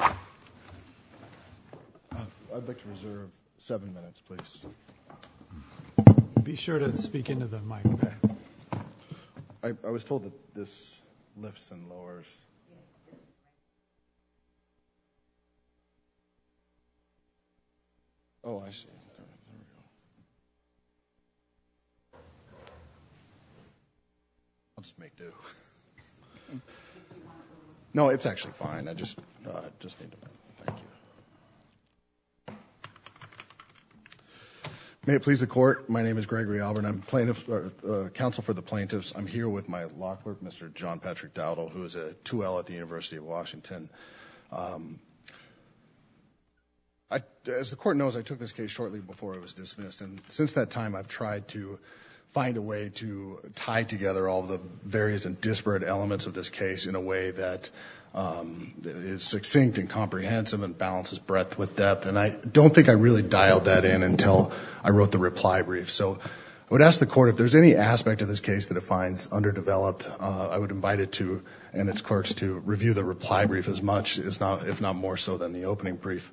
I'd like to reserve seven minutes please. Be sure to speak into the mic. I was told that this lifts and lowers. Oh, I see. I'll just make do. No, it's actually fine. May it please the court, my name is Gregory Auburn. I'm a counsel for the plaintiffs. I'm here with my law clerk, Mr. John Patrick Dowdle, who is a 2L at the University of Washington. As the court knows, I took this case shortly before it was dismissed and since that time I've tried to find a way to tie together all the various and disparate elements of this case in a way that is succinct and comprehensive and balances breadth with depth and I don't think I really dialed that in until I wrote the reply brief. So I would ask the court if there's any aspect of this case that it finds underdeveloped, I would invite it to and its clerks to review the reply brief as much, if not more so, than the opening brief.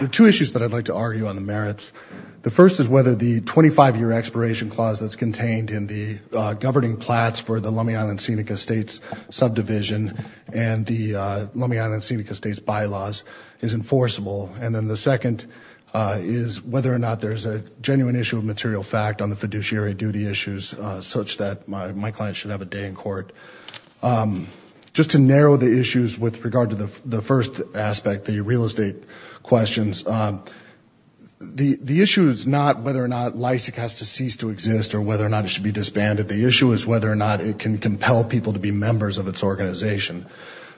There are two issues that I'd like to argue on the governing plats for the Lummi Island Scenic Estates subdivision and the Lummi Island Scenic Estates bylaws is enforceable and then the second is whether or not there's a genuine issue of material fact on the fiduciary duty issues such that my client should have a day in court. Just to narrow the issues with regard to the first aspect, the real estate questions, the issue is not whether or not LISIC has to cease to exist or whether or not it should be disbanded. The issue is whether or not it can compel people to be members of its organization.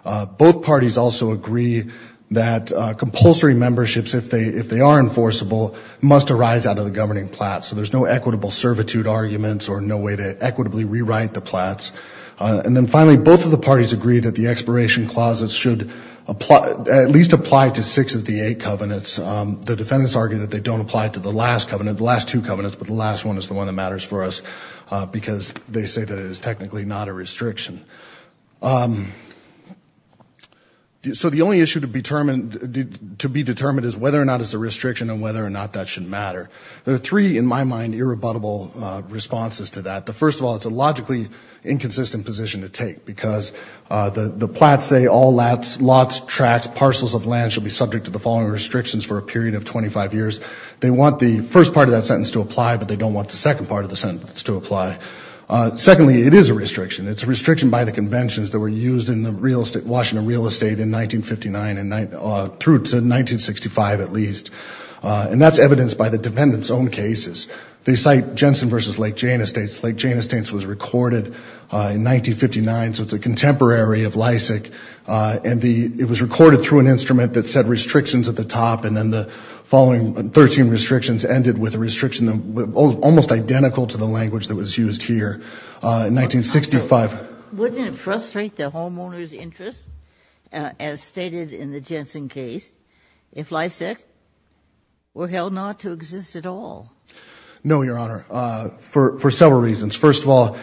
Both parties also agree that compulsory memberships, if they are enforceable, must arise out of the governing plats. So there's no equitable servitude arguments or no way to equitably rewrite the plats. And then finally, both of the parties agree that the expiration clauses should at least apply to six of the eight covenants. The defendants argue that they don't apply to the last covenant, the last two covenants, but the last one is the one that matters for us because they say that it is technically not a restriction. So the only issue to be determined to be determined is whether or not it's a restriction and whether or not that should matter. There are three in my mind irrebuttable responses to that. The first of all, it's a logically inconsistent position to take because the plats say all lots, tracts, parcels of land shall be subject to the following restrictions for a period of 25 years. They want the first part of that sentence to apply, but they don't want the second part of the sentence to apply. Secondly, it is a restriction. It's a restriction by the conventions that were used in the real estate, Washington real estate, in 1959 and through to 1965 at least. And that's evidenced by the defendants' own cases. They cite Jensen v. Lake Jane Estates. Lake Jane Estates was recorded in 1959, so it's a contemporary of Lysak, and it was recorded through an instrument that said restrictions at the top and then the following 13 restrictions ended with a restriction almost identical to the language that was used here in 1965. Ginsburg. Wouldn't it frustrate the homeowner's interest, as stated in the Jensen case, if Lysak were held not to exist at all? Fisher. No, Your Honor, for several reasons. First of all,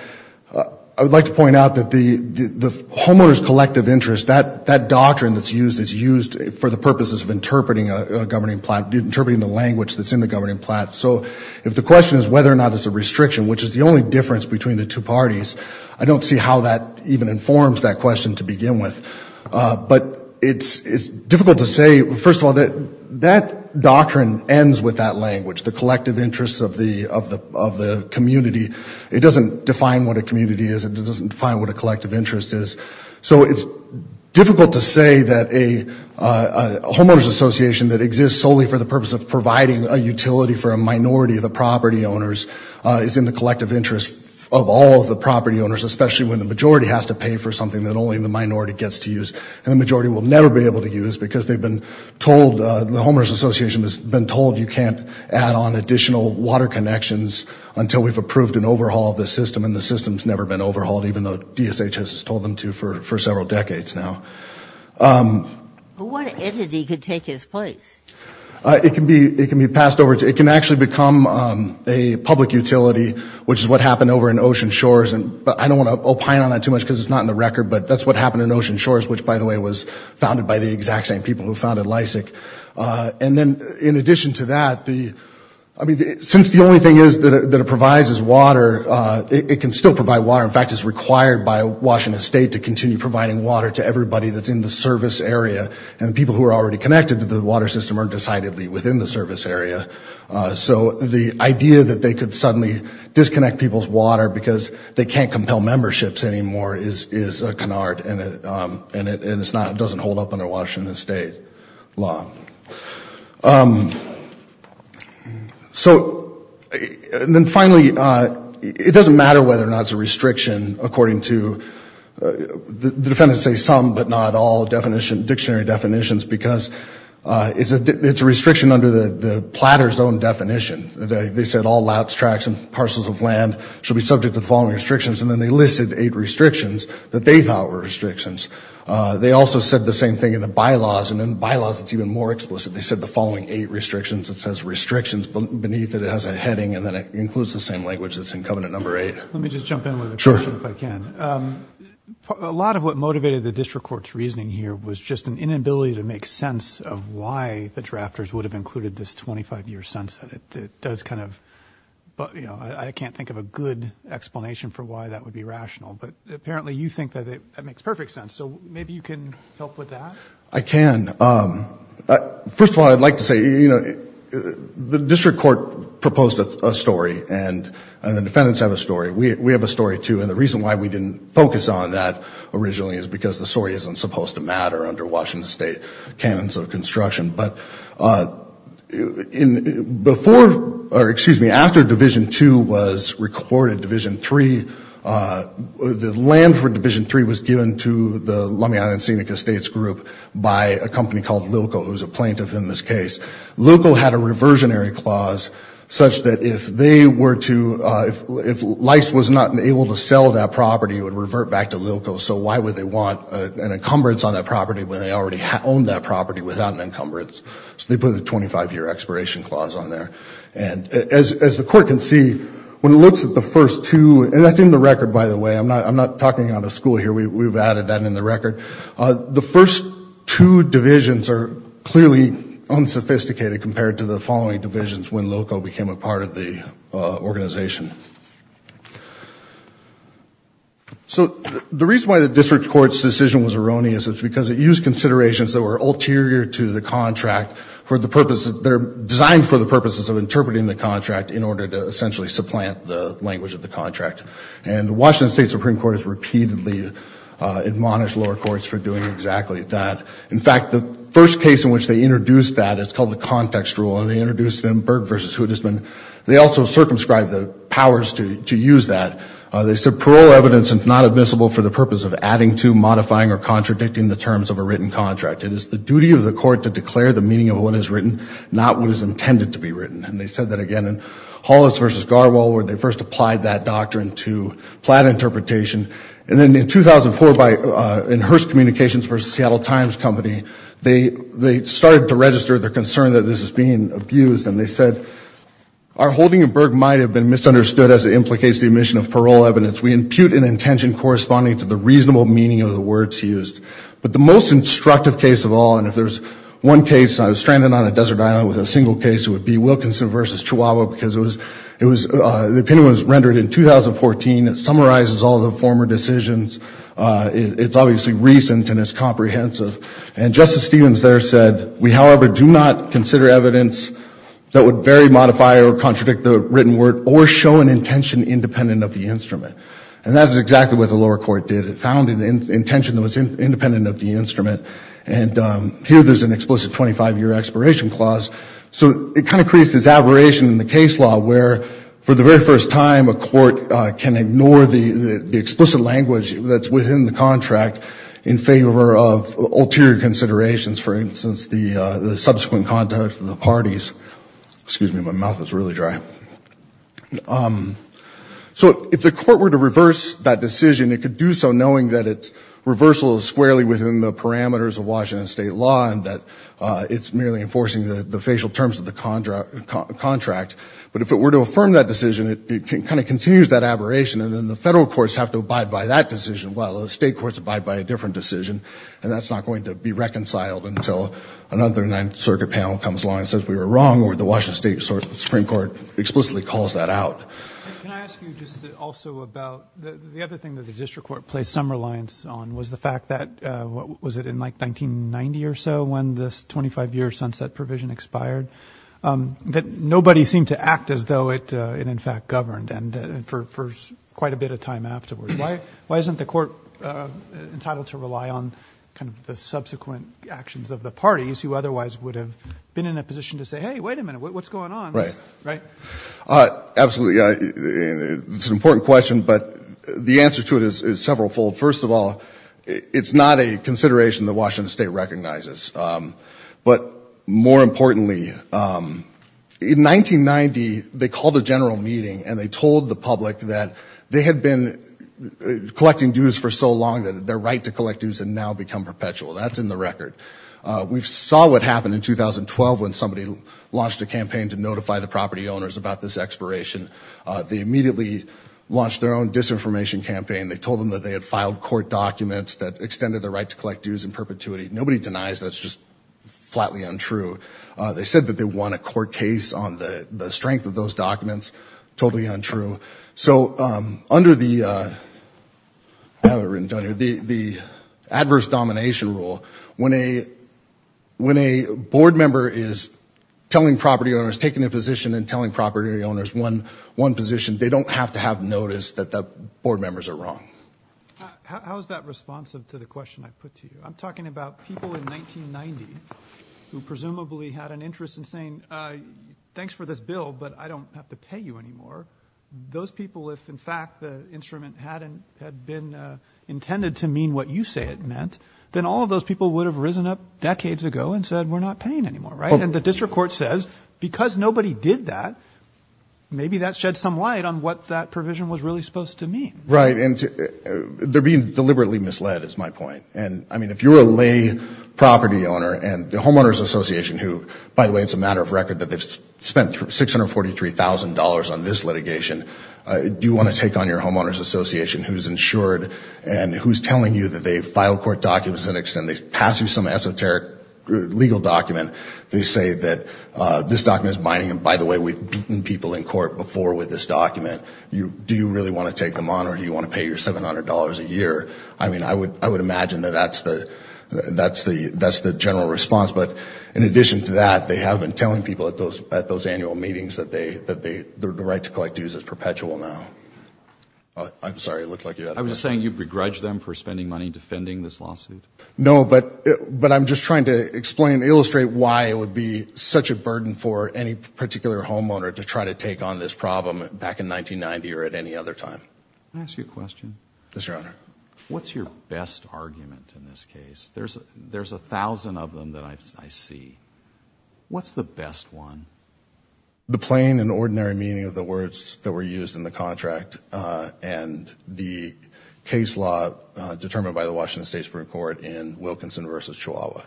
I would like to point out that the homeowner's collective interest, that doctrine that's used, is used for the purposes of interpreting a governing plat, interpreting the language that's in the governing plat. So if the question is whether or not it's a restriction, which is the only difference between the two parties, I don't see how that even informs that question to begin with. But it's difficult to say, first of all, that that doctrine ends with that language, the collective interests of the community. It doesn't define what a community is. It doesn't define what a homeowners association that exists solely for the purpose of providing a utility for a minority of the property owners is in the collective interest of all of the property owners, especially when the majority has to pay for something that only the minority gets to use. And the majority will never be able to use because they've been told, the homeowners association has been told you can't add on additional water connections until we've approved an overhaul of the system. And the system's never been overhauled, even though DSHS has told them to for years that they could take his place. It can be passed over. It can actually become a public utility, which is what happened over in Ocean Shores. But I don't want to opine on that too much because it's not in the record, but that's what happened in Ocean Shores, which, by the way, was founded by the exact same people who founded LISIC. And then, in addition to that, I mean, since the only thing is that it provides is water, it can still provide water. In fact, it's required by Washington State to continue providing water to everybody that's in the service area and people who are already connected to the water system aren't decidedly within the service area. So the idea that they could suddenly disconnect people's water because they can't compel memberships anymore is a canard and it doesn't hold up under Washington State law. So and then finally, it doesn't matter whether or not it's a restriction according to, the defendants say some but not all dictionary definitions because it's a restriction under the platter's own definition. They said all lapsed tracks and parcels of land should be subject to the following restrictions and then they listed eight restrictions that they thought were restrictions. They also said the same thing in the bylaws and in bylaws it's even more explicit. They said the following eight restrictions. It says restrictions beneath it. It has a heading and then it includes the same language that's in Covenant Number 8. Let me just jump in with a question if I can. A lot of what makes sense of why the drafters would have included this 25-year sunset it does kind of but you know I can't think of a good explanation for why that would be rational but apparently you think that it makes perfect sense so maybe you can help with that? I can. First of all I'd like to say you know the district court proposed a story and the defendants have a story. We have a story too and the reason why we didn't focus on that originally is because the story isn't supposed to matter under Washington State canons of construction but in before or excuse me after Division 2 was recorded Division 3 the land for Division 3 was given to the Lummi Island Scenic Estates group by a company called Lilco who's a plaintiff in this case. Lilco had a reversionary clause such that if they were to if LICE was not able to sell that property it would revert back to Lilco so why would they want an encumbrance on that property when they already had owned that property without an encumbrance so they put the 25-year expiration clause on there and as the court can see when it looks at the first two and that's in the record by the way I'm not I'm not talking out of school here we've added that in the record the first two divisions are clearly unsophisticated compared to the following divisions when Lilco became a part of the organization. So the reason why the district court's decision was erroneous is because it used considerations that were ulterior to the contract for the purposes they're designed for the purposes of interpreting the contract in order to essentially supplant the language of the contract and the Washington State Supreme Court has repeatedly admonished lower courts for doing exactly that in fact the first case in which they introduced that it's called the context rule and they introduced them Berg versus Houdisman they also circumscribed the powers to use that they said parole evidence is not admissible for the purpose of adding to modifying or contradicting the terms of a written contract it is the duty of the court to declare the meaning of what is written not what is intended to be written and they said that again in Hollis versus Garwald where they first applied that doctrine to plat interpretation and then in 2004 by in Hearst Communications versus Seattle Times Company they they started to register their concern that this is being abused and they said our holding of Berg might have been misunderstood as it implicates the omission of parole evidence we impute an intention corresponding to the reasonable meaning of the words used but the most instructive case of all and if there's one case I was stranded on a desert island with a single case it would be Wilkinson versus Chihuahua because it was it was the opinion was rendered in 2014 that summarizes all the former decisions it's obviously recent and it's comprehensive and Justice Stevens there said we however do not consider evidence that would very modify or contradict the written word or show an intention independent of the instrument and that's exactly what the lower court did it found an intention that was independent of the instrument and here there's an explicit 25-year expiration clause so it kind of creates this aberration in the case law where for the explicit language that's within the contract in favor of ulterior considerations for instance the subsequent contact of the parties excuse me my mouth is really dry so if the court were to reverse that decision it could do so knowing that it's reversal is squarely within the parameters of Washington state law and that it's merely enforcing the the facial terms of the contract contract but if it were to affirm that decision it can kind of continues that aberration and then the federal courts have to abide by that decision while the state courts abide by a different decision and that's not going to be reconciled until another 9th Circuit panel comes along and says we were wrong or the Washington State Supreme Court explicitly calls that out the other thing that the district court placed some reliance on was the fact that what was it in like 1990 or so when this 25 year sunset provision expired that nobody seemed to act as though it in fact governed and for first quite a bit of time afterwards why why isn't the court entitled to rely on kind of the subsequent actions of the parties who otherwise would have been in a position to say hey wait a minute what's going on right right absolutely it's an important question but the answer to it is several fold first of all it's not a consideration that Washington State recognizes but more importantly in 1990 they called a general meeting and they told the public that they had been collecting dues for so long that their right to collect dues and now become perpetual that's in the record we saw what happened in 2012 when somebody launched a campaign to notify the property owners about this expiration they immediately launched their own disinformation campaign they told them that they had filed court documents that that's just flatly untrue they said that they want a court case on the strength of those documents totally untrue so under the the adverse domination rule when a when a board member is telling property owners taking a position and telling property owners one one position they don't have to have noticed that the board members are wrong how is that responsive to the question I put to you I'm talking about people in 1990 who presumably had an interest in saying thanks for this bill but I don't have to pay you anymore those people if in fact the instrument hadn't had been intended to mean what you say it meant then all of those people would have risen up decades ago and said we're not paying anymore right and the district court says because nobody did that maybe that shed some light on what that provision was really supposed to mean right and they're being deliberately misled it's my point and I mean if you're a lay property owner and the homeowners association who by the way it's a matter of record that they've spent $643,000 on this litigation do you want to take on your homeowners association who's insured and who's telling you that they file court documents and extend these passive some esoteric legal document they say that this document is binding and by the way we've beaten people in court before with this document you do you really want to take them on or do you want to take them on and you're paying them $643,000 or $700 a year I mean I would I would imagine that that's the that's the that's the general response but in addition to that they have been telling people at those at those annual meetings that they that they the right to collect dues is perpetual now I'm sorry it looked like you I was saying you begrudge them for spending money defending this lawsuit no but but I'm just trying to explain illustrate why it would be such a burden for any particular homeowner to try to what's your best argument in this case there's a there's a thousand of them that I see what's the best one the plain and ordinary meaning of the words that were used in the contract and the case law determined by the Washington State Supreme Court in Wilkinson versus Chihuahua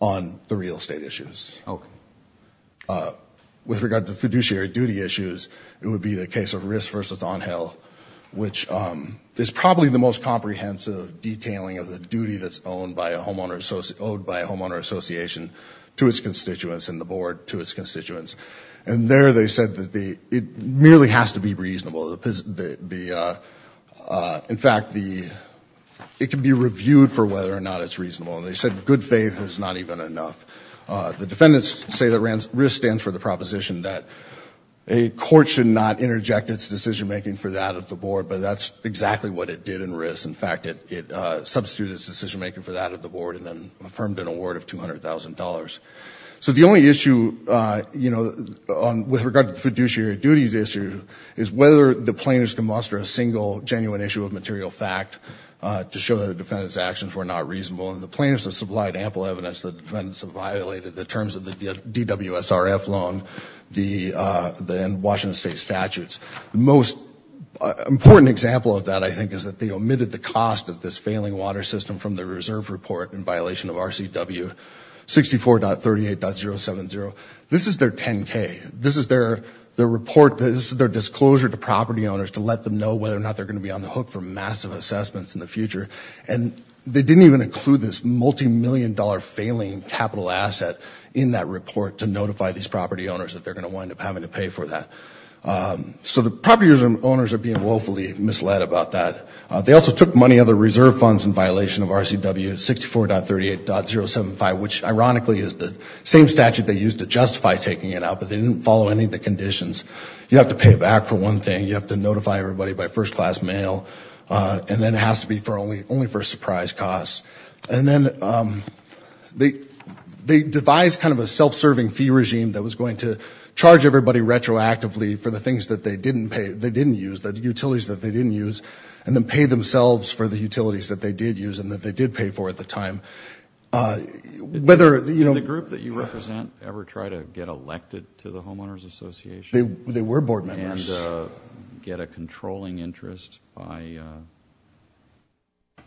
on the real estate issues Oh with regard to fiduciary duty issues it would be the case of risk versus on which is probably the most comprehensive detailing of the duty that's owned by a homeowner so owed by a homeowner association to its constituents and the board to its constituents and there they said that the it merely has to be reasonable the in fact the it can be reviewed for whether or not it's reasonable and they said good faith is not even enough the defendants say that rance risk stands for the proposition that a court should not interject its decision-making for that of the board but that's exactly what it did in risk in fact it it substitutes decision-making for that of the board and then affirmed an award of $200,000 so the only issue you know on with regard to fiduciary duties issue is whether the plaintiffs can muster a single genuine issue of material fact to show that the defendants actions were not reasonable and the plaintiffs have supplied ample evidence the defendants have violated the terms of the DWS RF loan the then Washington State statutes the most important example of that I think is that they omitted the cost of this failing water system from the reserve report in violation of RCW 64 dot 38 dot 0 7 0 this is their 10k this is their their report this is their disclosure to property owners to let them know whether or not they're going to be on the hook for massive assessments in the future and they didn't even include this multi-million dollar failing capital asset in that report to notify these property owners that they're going to wind up having to pay for that so the property owners are being woefully misled about that they also took money other reserve funds in violation of RCW 64 dot 38 dot 0 7 5 which ironically is the same statute they used to justify taking it out but they didn't follow any of the conditions you have to pay back for one thing you have to notify everybody by first-class mail and then it has to be for only only for surprise costs and then they they devised kind of a self-serving fee regime that was going to charge everybody retroactively for the things that they didn't pay they didn't use the utilities that they didn't use and then pay themselves for the utilities that they did use and that they did pay for at the time whether you know the group that you represent ever try to get elected to the homeowners association they were board members get a controlling interest by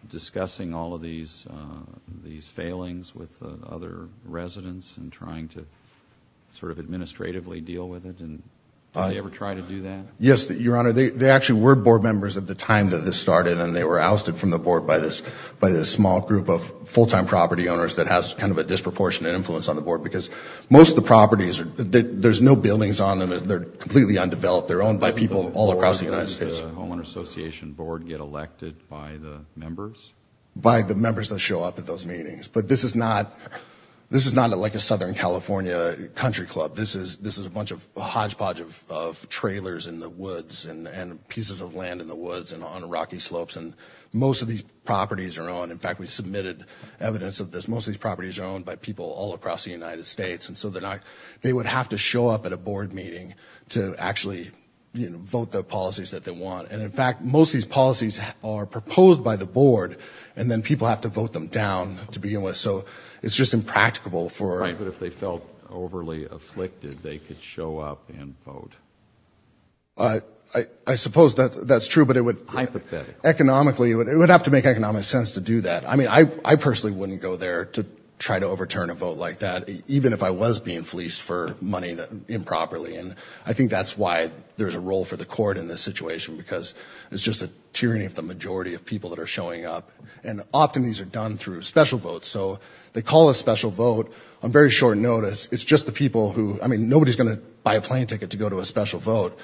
discussing all of these these failings with other residents and trying to sort of administratively deal with it and I ever try to do that yes that your honor they actually were board members at the time that this started and they were ousted from the board by this by this small group of full-time property owners that has kind of a disproportionate influence on the board because most the properties that there's no buildings on them as they're completely undeveloped they're owned by people all across the United States homeowners association board get elected by the members by the members that show up at those meetings but this is not this is not like a Southern California Country Club this is this is a bunch of hodgepodge of trailers in the woods and and pieces of land in the woods and on rocky slopes and most of these properties are on in fact we submitted evidence of this most of these properties are owned by people all across the United States and so they're to show up at a board meeting to actually vote the policies that they want and in fact most these policies are proposed by the board and then people have to vote them down to be in with so it's just impractical for right but if they felt overly afflicted they could show up and vote I suppose that that's true but it would hypothetically it would have to make economic sense to do that I mean I personally wouldn't go there to try to overturn a vote like that even if I was being fleeced for money that improperly and I think that's why there's a role for the court in this situation because it's just a tyranny of the majority of people that are showing up and often these are done through special votes so they call a special vote I'm very short notice it's just the people who I mean nobody's gonna buy a plane ticket to go to a special vote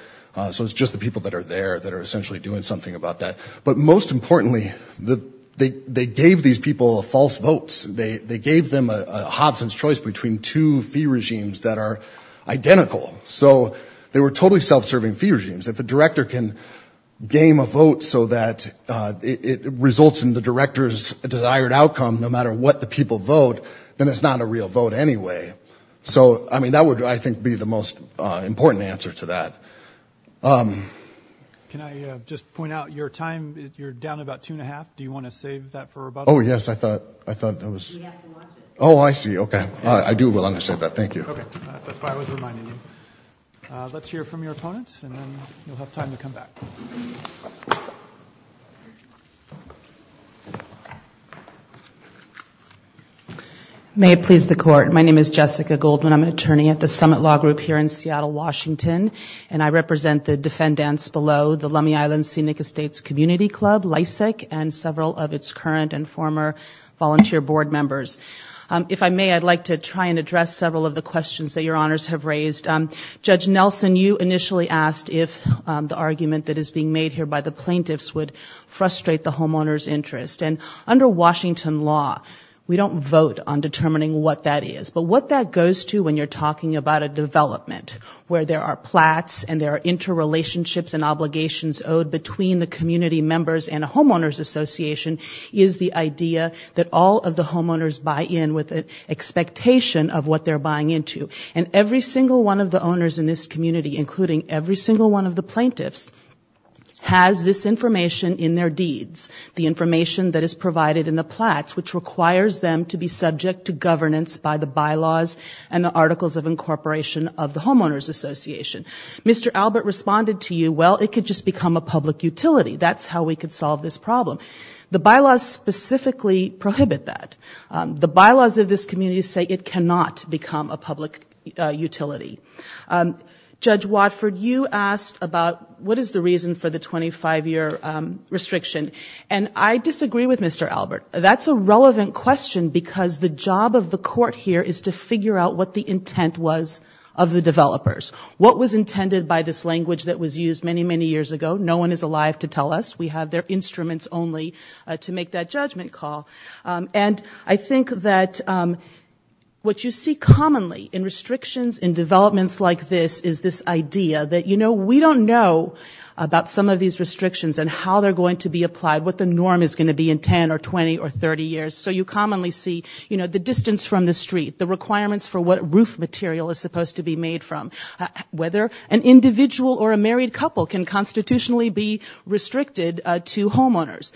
so it's just the people that are there that are essentially doing something about that but most importantly the they they gave these people false votes they they gave them a Hobson's choice between two fee regimes that are identical so they were totally self-serving fee regimes if a director can game a vote so that it results in the directors a desired outcome no matter what the people vote then it's not a real vote anyway so I mean that would I think be the most important answer to that can I just point out your time you're down about two and a half do you want to save that oh yes I thought I thought that was oh I see okay I do will understand that thank you may it please the court my name is Jessica Goldman I'm an attorney at the summit law group here in Seattle Washington and I represent the defendants below the Lummi Island Scenic Estates Community Club Lysak and several of its current and former volunteer board members if I may I'd like to try and address several of the questions that your honors have raised judge Nelson you initially asked if the argument that is being made here by the plaintiffs would frustrate the homeowners interest and under Washington law we don't vote on determining what that is but what that goes to when you're talking about a development where there are plats and there are interrelationships and obligations owed between the community members and a homeowners association is the idea that all of the homeowners buy in with an expectation of what they're buying into and every single one of the owners in this community including every single one of the plaintiffs has this information in their deeds the information that is provided in the plats which requires them to be subject to governance by the bylaws and the articles of incorporation of the homeowners association mr. Albert responded to you well it could just become a public utility that's how we could solve this problem the bylaws specifically prohibit that the bylaws of this community say it cannot become a public utility judge Watford you asked about what is the reason for the 25-year restriction and I disagree with mr. Albert that's a relevant question because the job of the court here is to figure out what the intent was of the developers what was intended by this language that was used many many years ago no one is alive to tell us we have their instruments only to make that judgment call and I think that what you see commonly in restrictions in developments like this is this idea that you know we don't know about some of these restrictions and how they're going to be applied what the norm is going to be in 10 or 20 or 30 years so you commonly see you know the distance from the street the requirements for what roof material is supposed to be made from whether an individual or a married couple can constitutionally be restricted to homeowners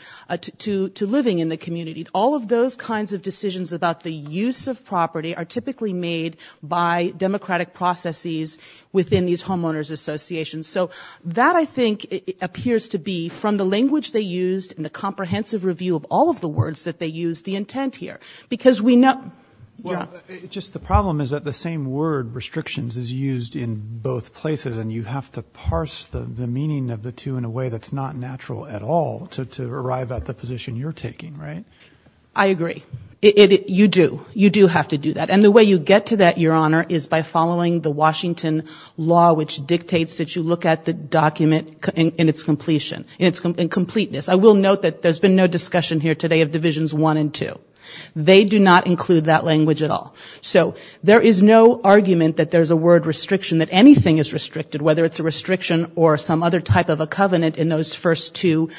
to to living in the community all of those kinds of decisions about the use of property are typically made by democratic processes within these homeowners associations so that I think it appears to be from the language they used in the comprehensive review of all of the words that they use the intent here because we know just the problem is that the same word restrictions is used in both places and you have to parse the meaning of the two in a way that's not natural at all to arrive at the position you're taking right I agree it you do you do have to do that and the way you get to that your honor is by following the Washington law which dictates that you look at the document in its completion in its completeness I will note that there's been no discussion here today of they do not include that language at all so there is no argument that there's a word restriction that anything is restricted whether it's a restriction or some other type of a covenant in those first two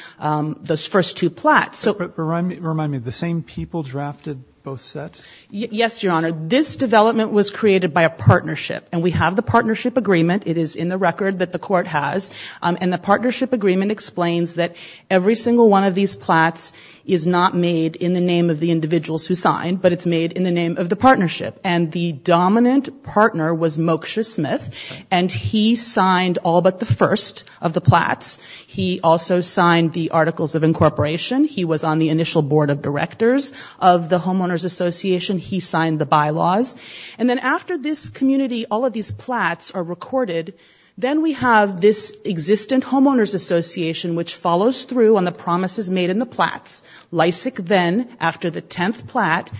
those first two plats so remind me the same people drafted both sets yes your honor this development was created by a partnership and we have the partnership agreement it is in the record that the court has and the partnership agreement explains that every single one of these plats is not made in the name of the individuals who signed but it's made in the name of the partnership and the dominant partner was Mocha Smith and he signed all but the first of the plats he also signed the articles of incorporation he was on the initial board of directors of the homeowners association he signed the bylaws and then after this community all of these plats are recorded then we have this existent homeowners association which follows through on the promises made in the plats Lysak then after the tenth plat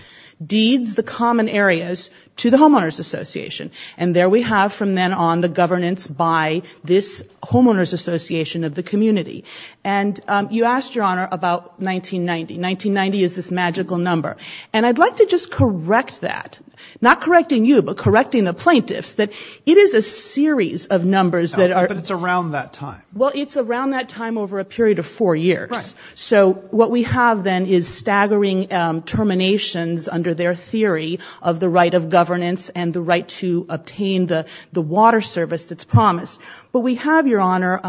deeds the common areas to the homeowners association and there we have from then on the governance by this homeowners association of the community and you asked your honor about 1990 1990 is this magical number and I'd like to just correct that not correcting you but correcting the plaintiffs that it is a series of numbers that are it's around that time well it's around that time over a period of four years so what we have then is staggering terminations under their theory of the right of governance and the right to obtain the the water service that's promised but we have your honor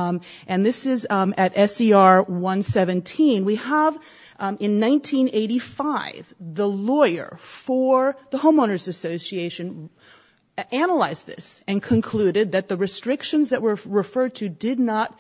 and this is at SER 117 we have in 1985 the lawyer for the homeowners association analyzed this and concluded that the restrictions that were referred to did not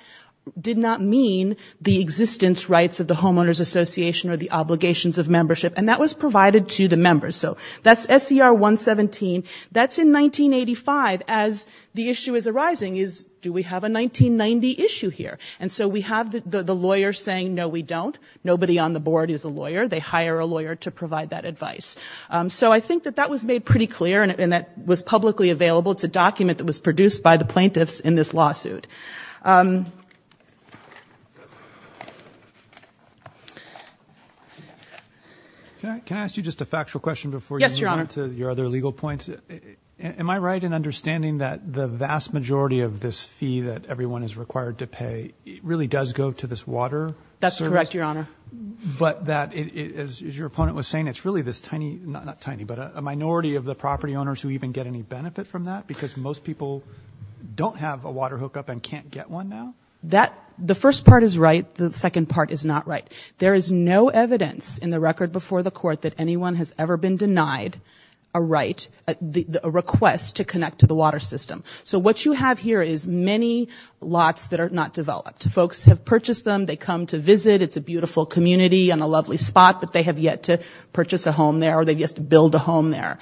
did not mean the existence rights of the homeowners association or the obligations of membership and that was provided to the members so that's SER 117 that's in 1985 as the issue is arising is do we have a 1990 issue here and so we have the lawyer saying no we don't nobody on the board is a lawyer they hire a lawyer to provide that advice so I think that that was made pretty clear and that was publicly available it's a document that was produced by the plaintiffs in this okay can I ask you just a factual question before yes your honor to your other legal points am I right in understanding that the vast majority of this fee that everyone is required to pay it really does go to this water that's correct your honor but that is your opponent was saying it's really this tiny not tiny but a minority of the property owners who even get any benefit from that because most people don't have a water hookup and can't get one now that the first part is right the second part is not right there is no evidence in the record before the court that anyone has ever been denied a right the request to connect to the water system so what you have here is many lots that are not developed folks have purchased them they come to visit it's a beautiful community on a lovely spot but they have yet to purchase a home there or they just build a home there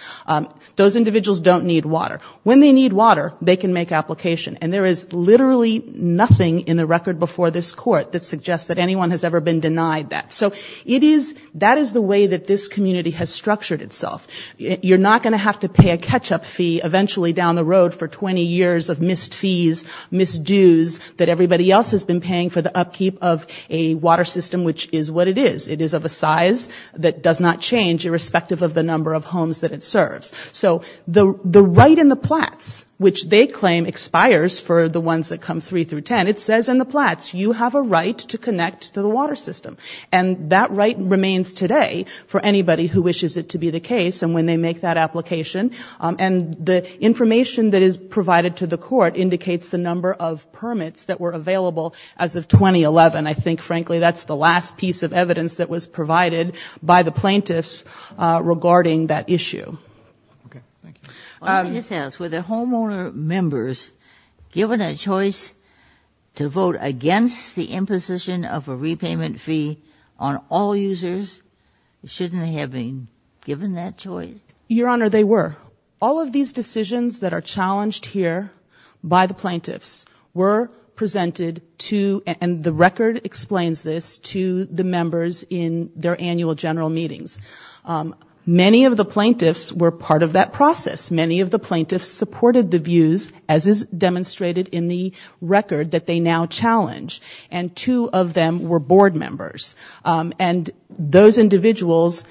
those individuals don't need water when they need water they can make application and there is literally nothing in the record before this court that suggests that anyone has ever been denied that so it is that is the way that this community has structured itself you're not going to have to pay a catch-up fee eventually down the road for 20 years of missed fees misdues that everybody else has been paying for the upkeep of a water system which is what it is it is of a size that does not change irrespective of the number of homes that it serves so the the right in the plats which they claim expires for the ones that come three through ten it says in the plats you have a right to connect to the water system and that right remains today for anybody who wishes it to be the case and when they make that application and the information that is provided to the court indicates the number of permits that were available as of 2011 I think frankly that's the last piece of evidence that was provided by the plaintiffs regarding that issue this house with their homeowner members given a choice to vote against the imposition of a repayment fee on all users shouldn't have been given that choice your honor they were all of these decisions that are challenged here by the plaintiffs were presented to and the record explains this to the members in their annual general meetings many of the plaintiffs were part of that process many of the plaintiffs supported the views as is demonstrated in the record that they now challenge and two of them were board members and those individuals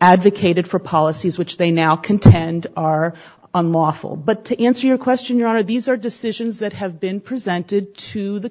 advocated for policies which they now contend are unlawful but to answer your question your honor these are decisions that have been presented to the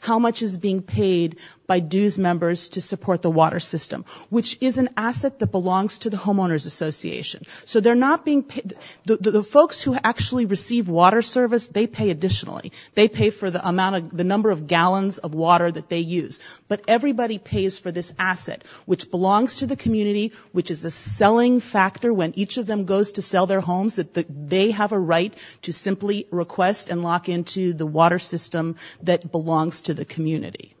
how much is being paid by dues members to support the water system which is an asset that belongs to the homeowners association so they're not being paid the folks who actually receive water service they pay additionally they pay for the amount of the number of gallons of water that they use but everybody pays for this asset which belongs to the community which is a selling factor when each of them goes to sell their homes that they have a right to simply request and lock into the water system that belongs to the community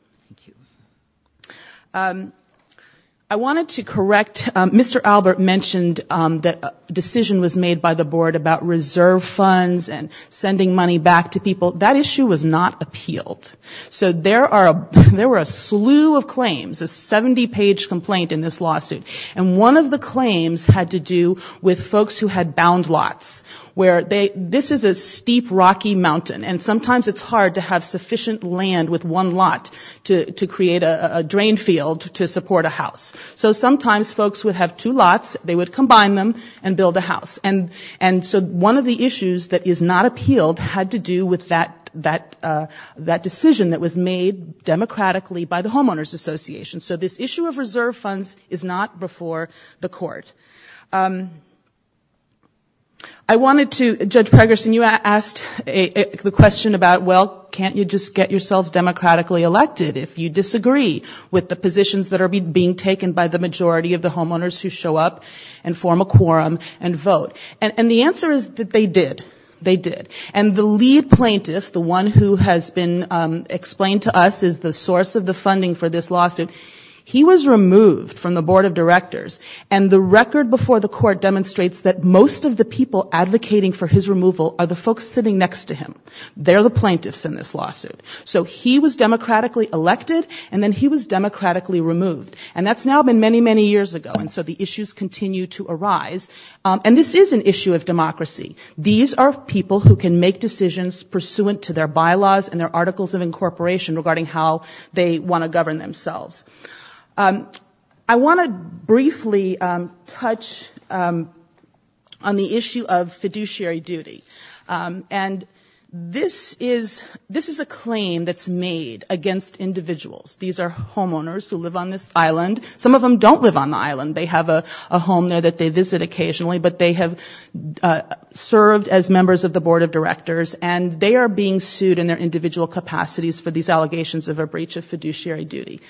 I wanted to correct Mr. Albert mentioned that decision was made by the board about reserve funds and sending money back to people that issue was not appealed so there are there were a slew of claims a 70 page complaint in this lawsuit and one of the claims had to do with folks who had bound lots where they this is a deep rocky mountain and sometimes it's hard to have sufficient land with one lot to to create a drain field to support a house so sometimes folks would have two lots they would combine them and build a house and and so one of the issues that is not appealed had to do with that that that decision that was made democratically by the homeowners association so this issue of reserve funds is not before the court I wanted to judge you asked a question about well can't you just get yourself democratically elected if you disagree with the positions that are being taken by the majority of the homeowners who show up and form a quorum and vote and the answer is that they did they did and the lead plaintiff the one who has been explained to us is the source of the lawsuit he was removed from the board of directors and the record before the court demonstrates that most of the people advocating for his removal of the folks sitting next to him they're the plaintiffs in this lawsuit so he was democratically elected and then he was democratically removed and that's now been many many years ago and so the issues continue to arise and this is an issue of democracy these are people who can make decisions pursuant to their bylaws and their articles of incorporation regarding how they want to I want to briefly touch on the issue of fiduciary duty and this is this is a claim that's made against individuals these are homeowners who live on this island some of them don't live on the island they have a home there that they visit occasionally but they have served as members of the board of directors and they are being sued in their individual capacities for these allegations of a fiduciary duty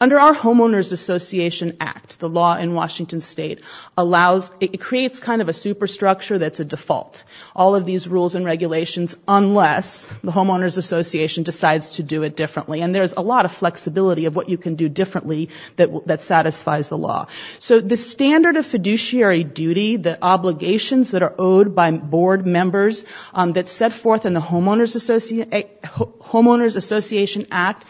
under our homeowners association act the law in Washington State allows it creates kind of a superstructure that's a default all of these rules and regulations unless the homeowners association decides to do it differently and there's a lot of flexibility of what you can do differently that that satisfies the law so the standard of fiduciary duty the obligations that are owed by board members that set forth in the homeowners association act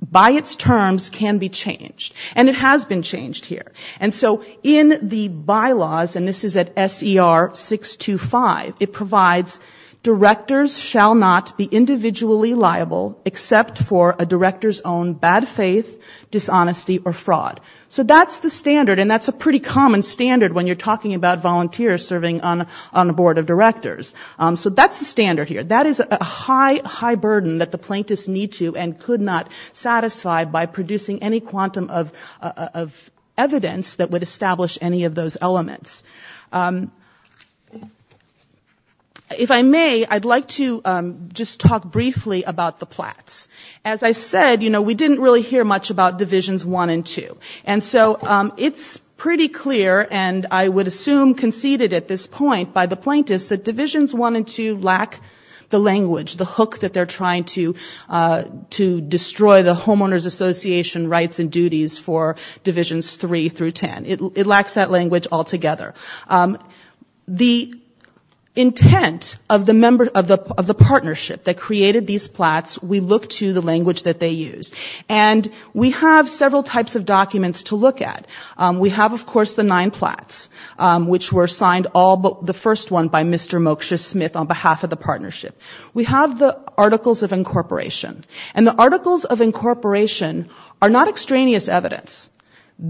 by its terms can be changed and it has been changed here and so in the bylaws and this is at SER 625 it provides directors shall not be individually liable except for a director's own bad faith dishonesty or fraud so that's the standard and that's a pretty common standard when you're talking about volunteers serving on on the board of directors it's a high high burden that the plaintiffs need to and could not satisfy by producing any quantum of evidence that would establish any of those elements if I may I'd like to just talk briefly about the plats as I said you know we didn't really hear much about divisions one and two and so it's pretty clear and I would assume conceded at this point by the plaintiffs that the language the hook that they're trying to to destroy the homeowners association rights and duties for divisions three through ten it lacks that language altogether the intent of the member of the of the partnership that created these plats we look to the language that they use and we have several types of documents to look at we have of course the nine plats which were signed all but the first one by Mr. Mokshus Smith on behalf of the we have the articles of incorporation and the articles of incorporation are not extraneous evidence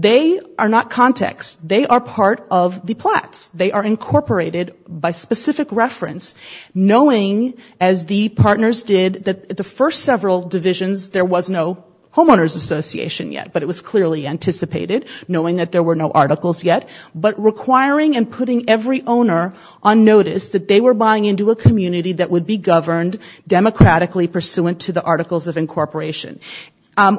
they are not context they are part of the plats they are incorporated by specific reference knowing as the partners did that the first several divisions there was no homeowners association yet but it was clearly anticipated knowing that there were no articles yet but requiring and putting every owner on notice that they were buying into a community that would be governed democratically pursuant to the articles of incorporation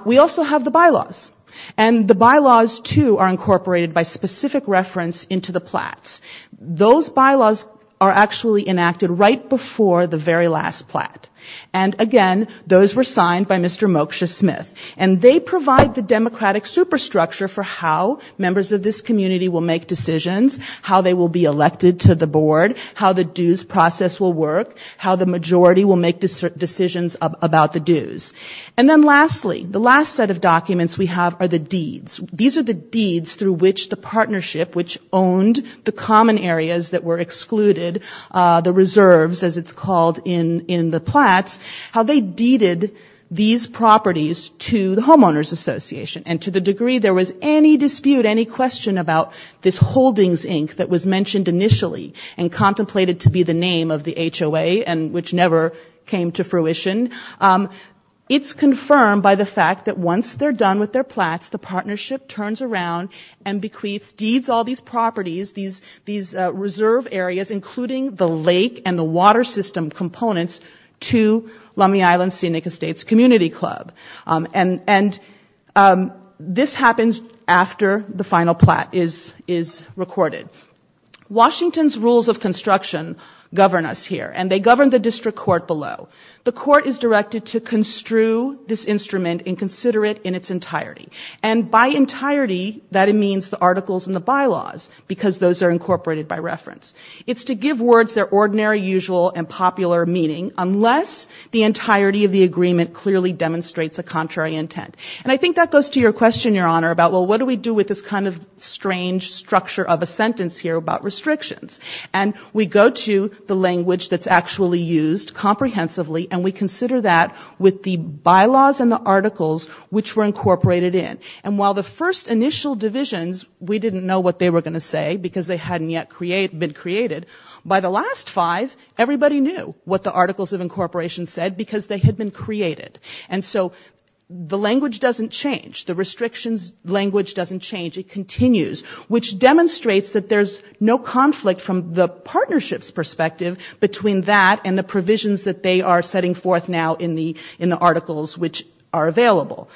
we also have the bylaws and the bylaws to are incorporated by specific reference into the plats those bylaws are actually enacted right before the very last plat and again those were signed by Mr. Mokshus Smith and they provide the democratic superstructure for how members of this community will make decisions how they will be elected to the board how the dues process will work how the majority will make decisions about the dues and then lastly the last set of documents we have are the deeds these are the deeds through which the partnership which owned the common areas that were excluded the reserves as it's called in in the plats how they deeded these properties to the homeowners association and to the degree there was any dispute any question about this holdings Inc that was mentioned initially and contemplated to be the name of the HOA and which never came to fruition it's confirmed by the fact that once they're done with their plats the partnership turns around and bequeaths deeds all these properties these these reserve areas including the lake and the water system components to Lummi Island Scenic Estates Community Club and and this happens after the final plat is is recorded Washington's rules of here and they govern the district court below the court is directed to construe this instrument and consider it in its entirety and by entirety that it means the articles in the bylaws because those are incorporated by reference it's to give words their ordinary usual and popular meaning unless the entirety of the agreement clearly demonstrates a contrary intent and I think that goes to your question your honor about well what do we do with this kind of strange structure of a sentence here about restrictions and we go to the language that's actually used comprehensively and we consider that with the bylaws and the articles which were incorporated in and while the first initial divisions we didn't know what they were going to say because they hadn't yet create been created by the last five everybody knew what the articles of incorporation said because they had been created and so the language doesn't change the restrictions language doesn't change it continues which demonstrates that there's no conflict from the partnerships perspective between that and the provisions that they are setting forth now in the in the articles which are available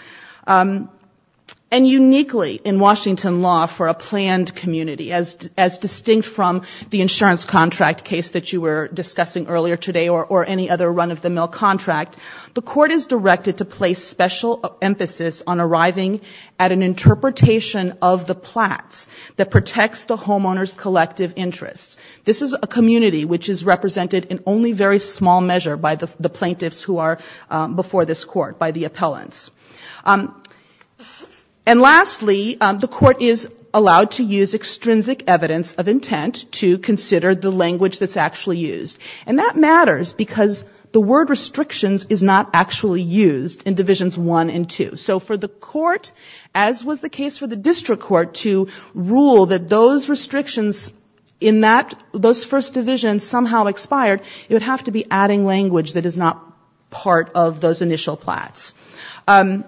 and uniquely in Washington law for a planned community as as distinct from the insurance contract case that you were discussing earlier today or or any other run-of-the-mill contract the court is directed to place special emphasis on arriving at an interpretation of the plats that protects the homeowners collective interests this is a community which is represented in only very small measure by the plaintiffs who are before this court by the appellants and lastly the court is allowed to use extrinsic evidence of intent to consider the language that's actually used and that matters because the word restrictions is not actually used in divisions one and two so for the court as was the case for the district court to rule that those restrictions in that those first division somehow expired it would have to be adding language that is not part of those initial plats can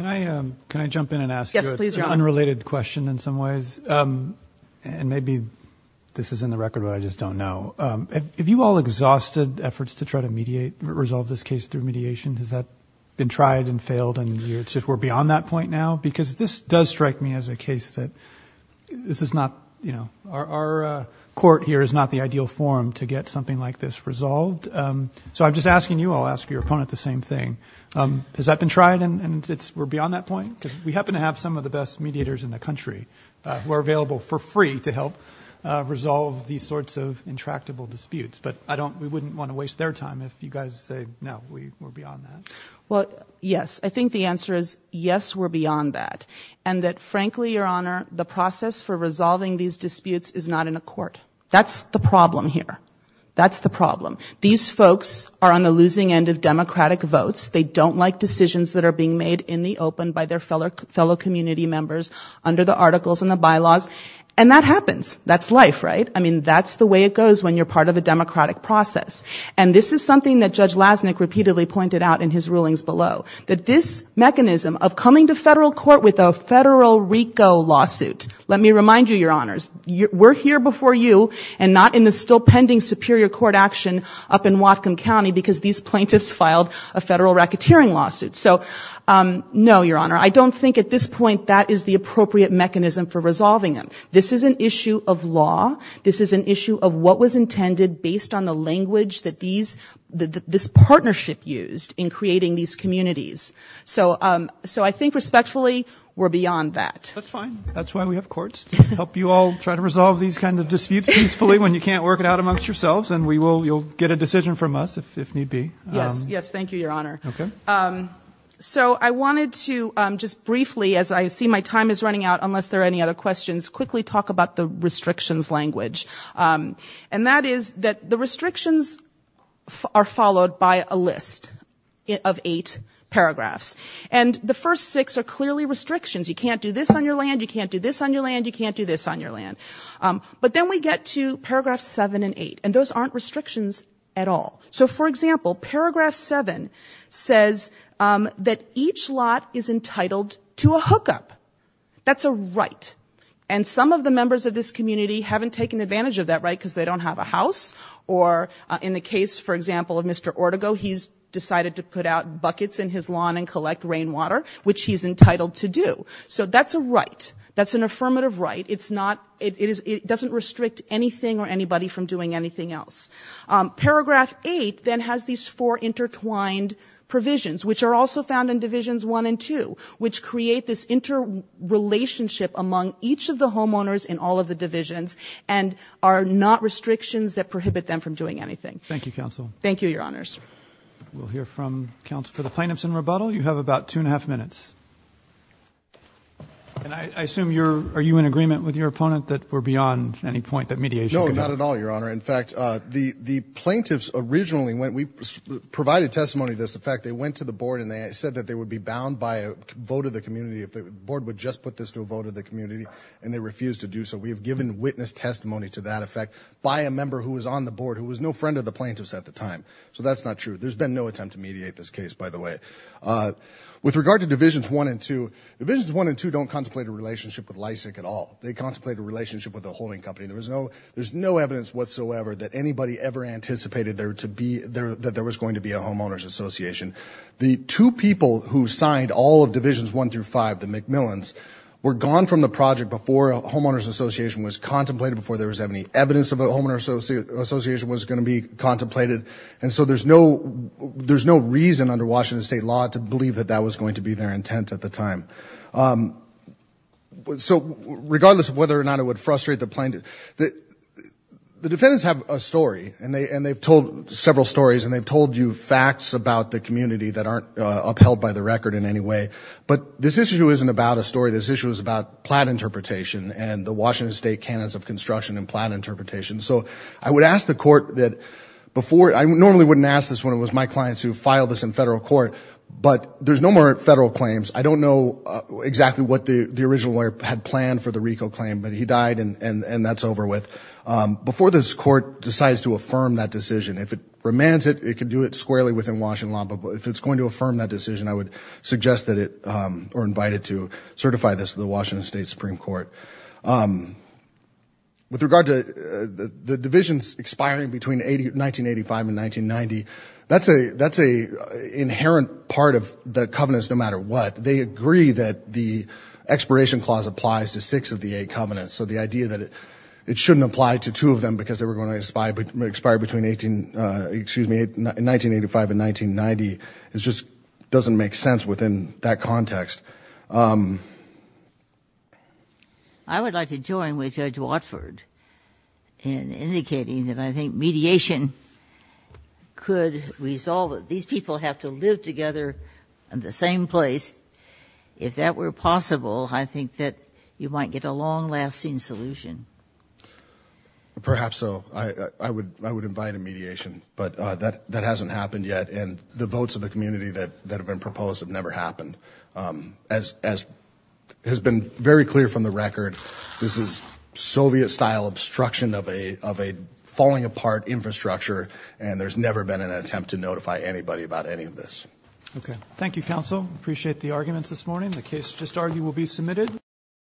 I can I jump in and ask yes please unrelated question in some ways and maybe this is in the record but I just don't know if you all exhausted efforts to try to mediate resolve this case through mediation has that been tried and failed and it's just we're beyond that point now because this does strike me as a case that this is not you know our court here is not the ideal form to get something like this resolved so I'm just asking you I'll ask your opponent the same thing has that been tried and it's we're beyond that point because we happen to have some of the best mediators in the country who are available for free to help resolve these sorts of intractable disputes but I don't we wouldn't want to waste their time if you guys say no we were beyond that well yes I think the answer is yes we're beyond that and that frankly your honor the process for resolving these disputes is not in a court that's the problem here that's the problem these folks are on the losing end of Democratic votes they don't like decisions that are being made in the open by their fellow fellow community members under the articles and the bylaws and that happens that's life right I mean that's the way it goes when you're part of a democratic process and this is something that Judge Lassnick repeatedly pointed out in his rulings below that this mechanism of coming to federal court with a federal RICO lawsuit let me remind you your honors we're here before you and not in the still pending Superior Court action up in Whatcom County because these plaintiffs filed a federal racketeering lawsuit so no your honor I don't think at this point that is the appropriate mechanism for resolving them this is an issue of law this is an issue of what was intended based on the language that these this partnership used in creating these communities so so I think respectfully we're beyond that that's fine that's why we have courts help you all try to resolve these kind of disputes peacefully when you can't work it out amongst yourselves and we will you'll get a decision from us if need be yes yes thank you your honor okay so I wanted to just briefly as I see my time is running out unless there are any other questions quickly talk about the restrictions are followed by a list of eight paragraphs and the first six are clearly restrictions you can't do this on your land you can't do this on your land you can't do this on your land but then we get to paragraph seven and eight and those aren't restrictions at all so for example paragraph seven says that each lot is entitled to a hookup that's a right and some of the members of this community haven't taken advantage of that right because they don't have a or in the case for example of mr. Ortego he's decided to put out buckets in his lawn and collect rainwater which he's entitled to do so that's a right that's an affirmative right it's not it is it doesn't restrict anything or anybody from doing anything else paragraph eight then has these four intertwined provisions which are also found in divisions one and two which create this interrelationship among each of the homeowners in all of the divisions and are not restrictions that prohibit them from doing anything thank you counsel thank you your honors we'll hear from counsel for the plaintiffs in rebuttal you have about two and a half minutes and I assume you're are you in agreement with your opponent that we're beyond any point that mediation not at all your honor in fact the the plaintiffs originally when we provided testimony this in fact they went to the board and they said that they would be bound by a vote of the community if the board would just put this to a vote of the community and they refused to do so we have given witness testimony to that effect by a member who was on the board who was no friend of the plaintiffs at the time so that's not true there's been no attempt to mediate this case by the way with regard to divisions one and two divisions one and two don't contemplate a relationship with Lysak at all they contemplate a relationship with the holding company there was no there's no evidence whatsoever that anybody ever anticipated there to be there that there was going to be a homeowners association the two people who signed all of divisions one through five the Millons were gone from the project before homeowners association was contemplated before there was any evidence of a homeowner associate association was going to be contemplated and so there's no there's no reason under Washington state law to believe that that was going to be their intent at the time so regardless of whether or not it would frustrate the plaintiff that the defendants have a story and they and they've told several stories and they've told you facts about the community that aren't upheld by the record in any way but this issue isn't about a story this issue is about plat interpretation and the Washington State canons of construction and plan interpretation so I would ask the court that before I normally wouldn't ask this one it was my clients who filed this in federal court but there's no more federal claims I don't know exactly what the the original lawyer had planned for the Rico claim but he died and and and that's over with before this court decides to affirm that decision if it remands it it could do it squarely within Washington law but if it's going to affirm that decision I would suggest that it or invite it to certify this to the Washington State Supreme Court with regard to the divisions expiring between 80 1985 and 1990 that's a that's a inherent part of the covenants no matter what they agree that the expiration clause applies to six of the eight covenants so the idea that it it shouldn't apply to two of them because they were going to inspire but expire between 18 excuse me in 1985 and 1990 it just doesn't make sense within that context I would like to join with Judge Watford in indicating that I think mediation could resolve it these people have to live together in the same place if that were possible I think that you might get a long lasting solution perhaps so I would I would invite a and the votes of the community that that have been proposed have never happened as has been very clear from the record this is Soviet style obstruction of a of a falling apart infrastructure and there's never been an attempt to notify anybody about any of this okay Thank You counsel appreciate the arguments this morning the case just argue will be submitted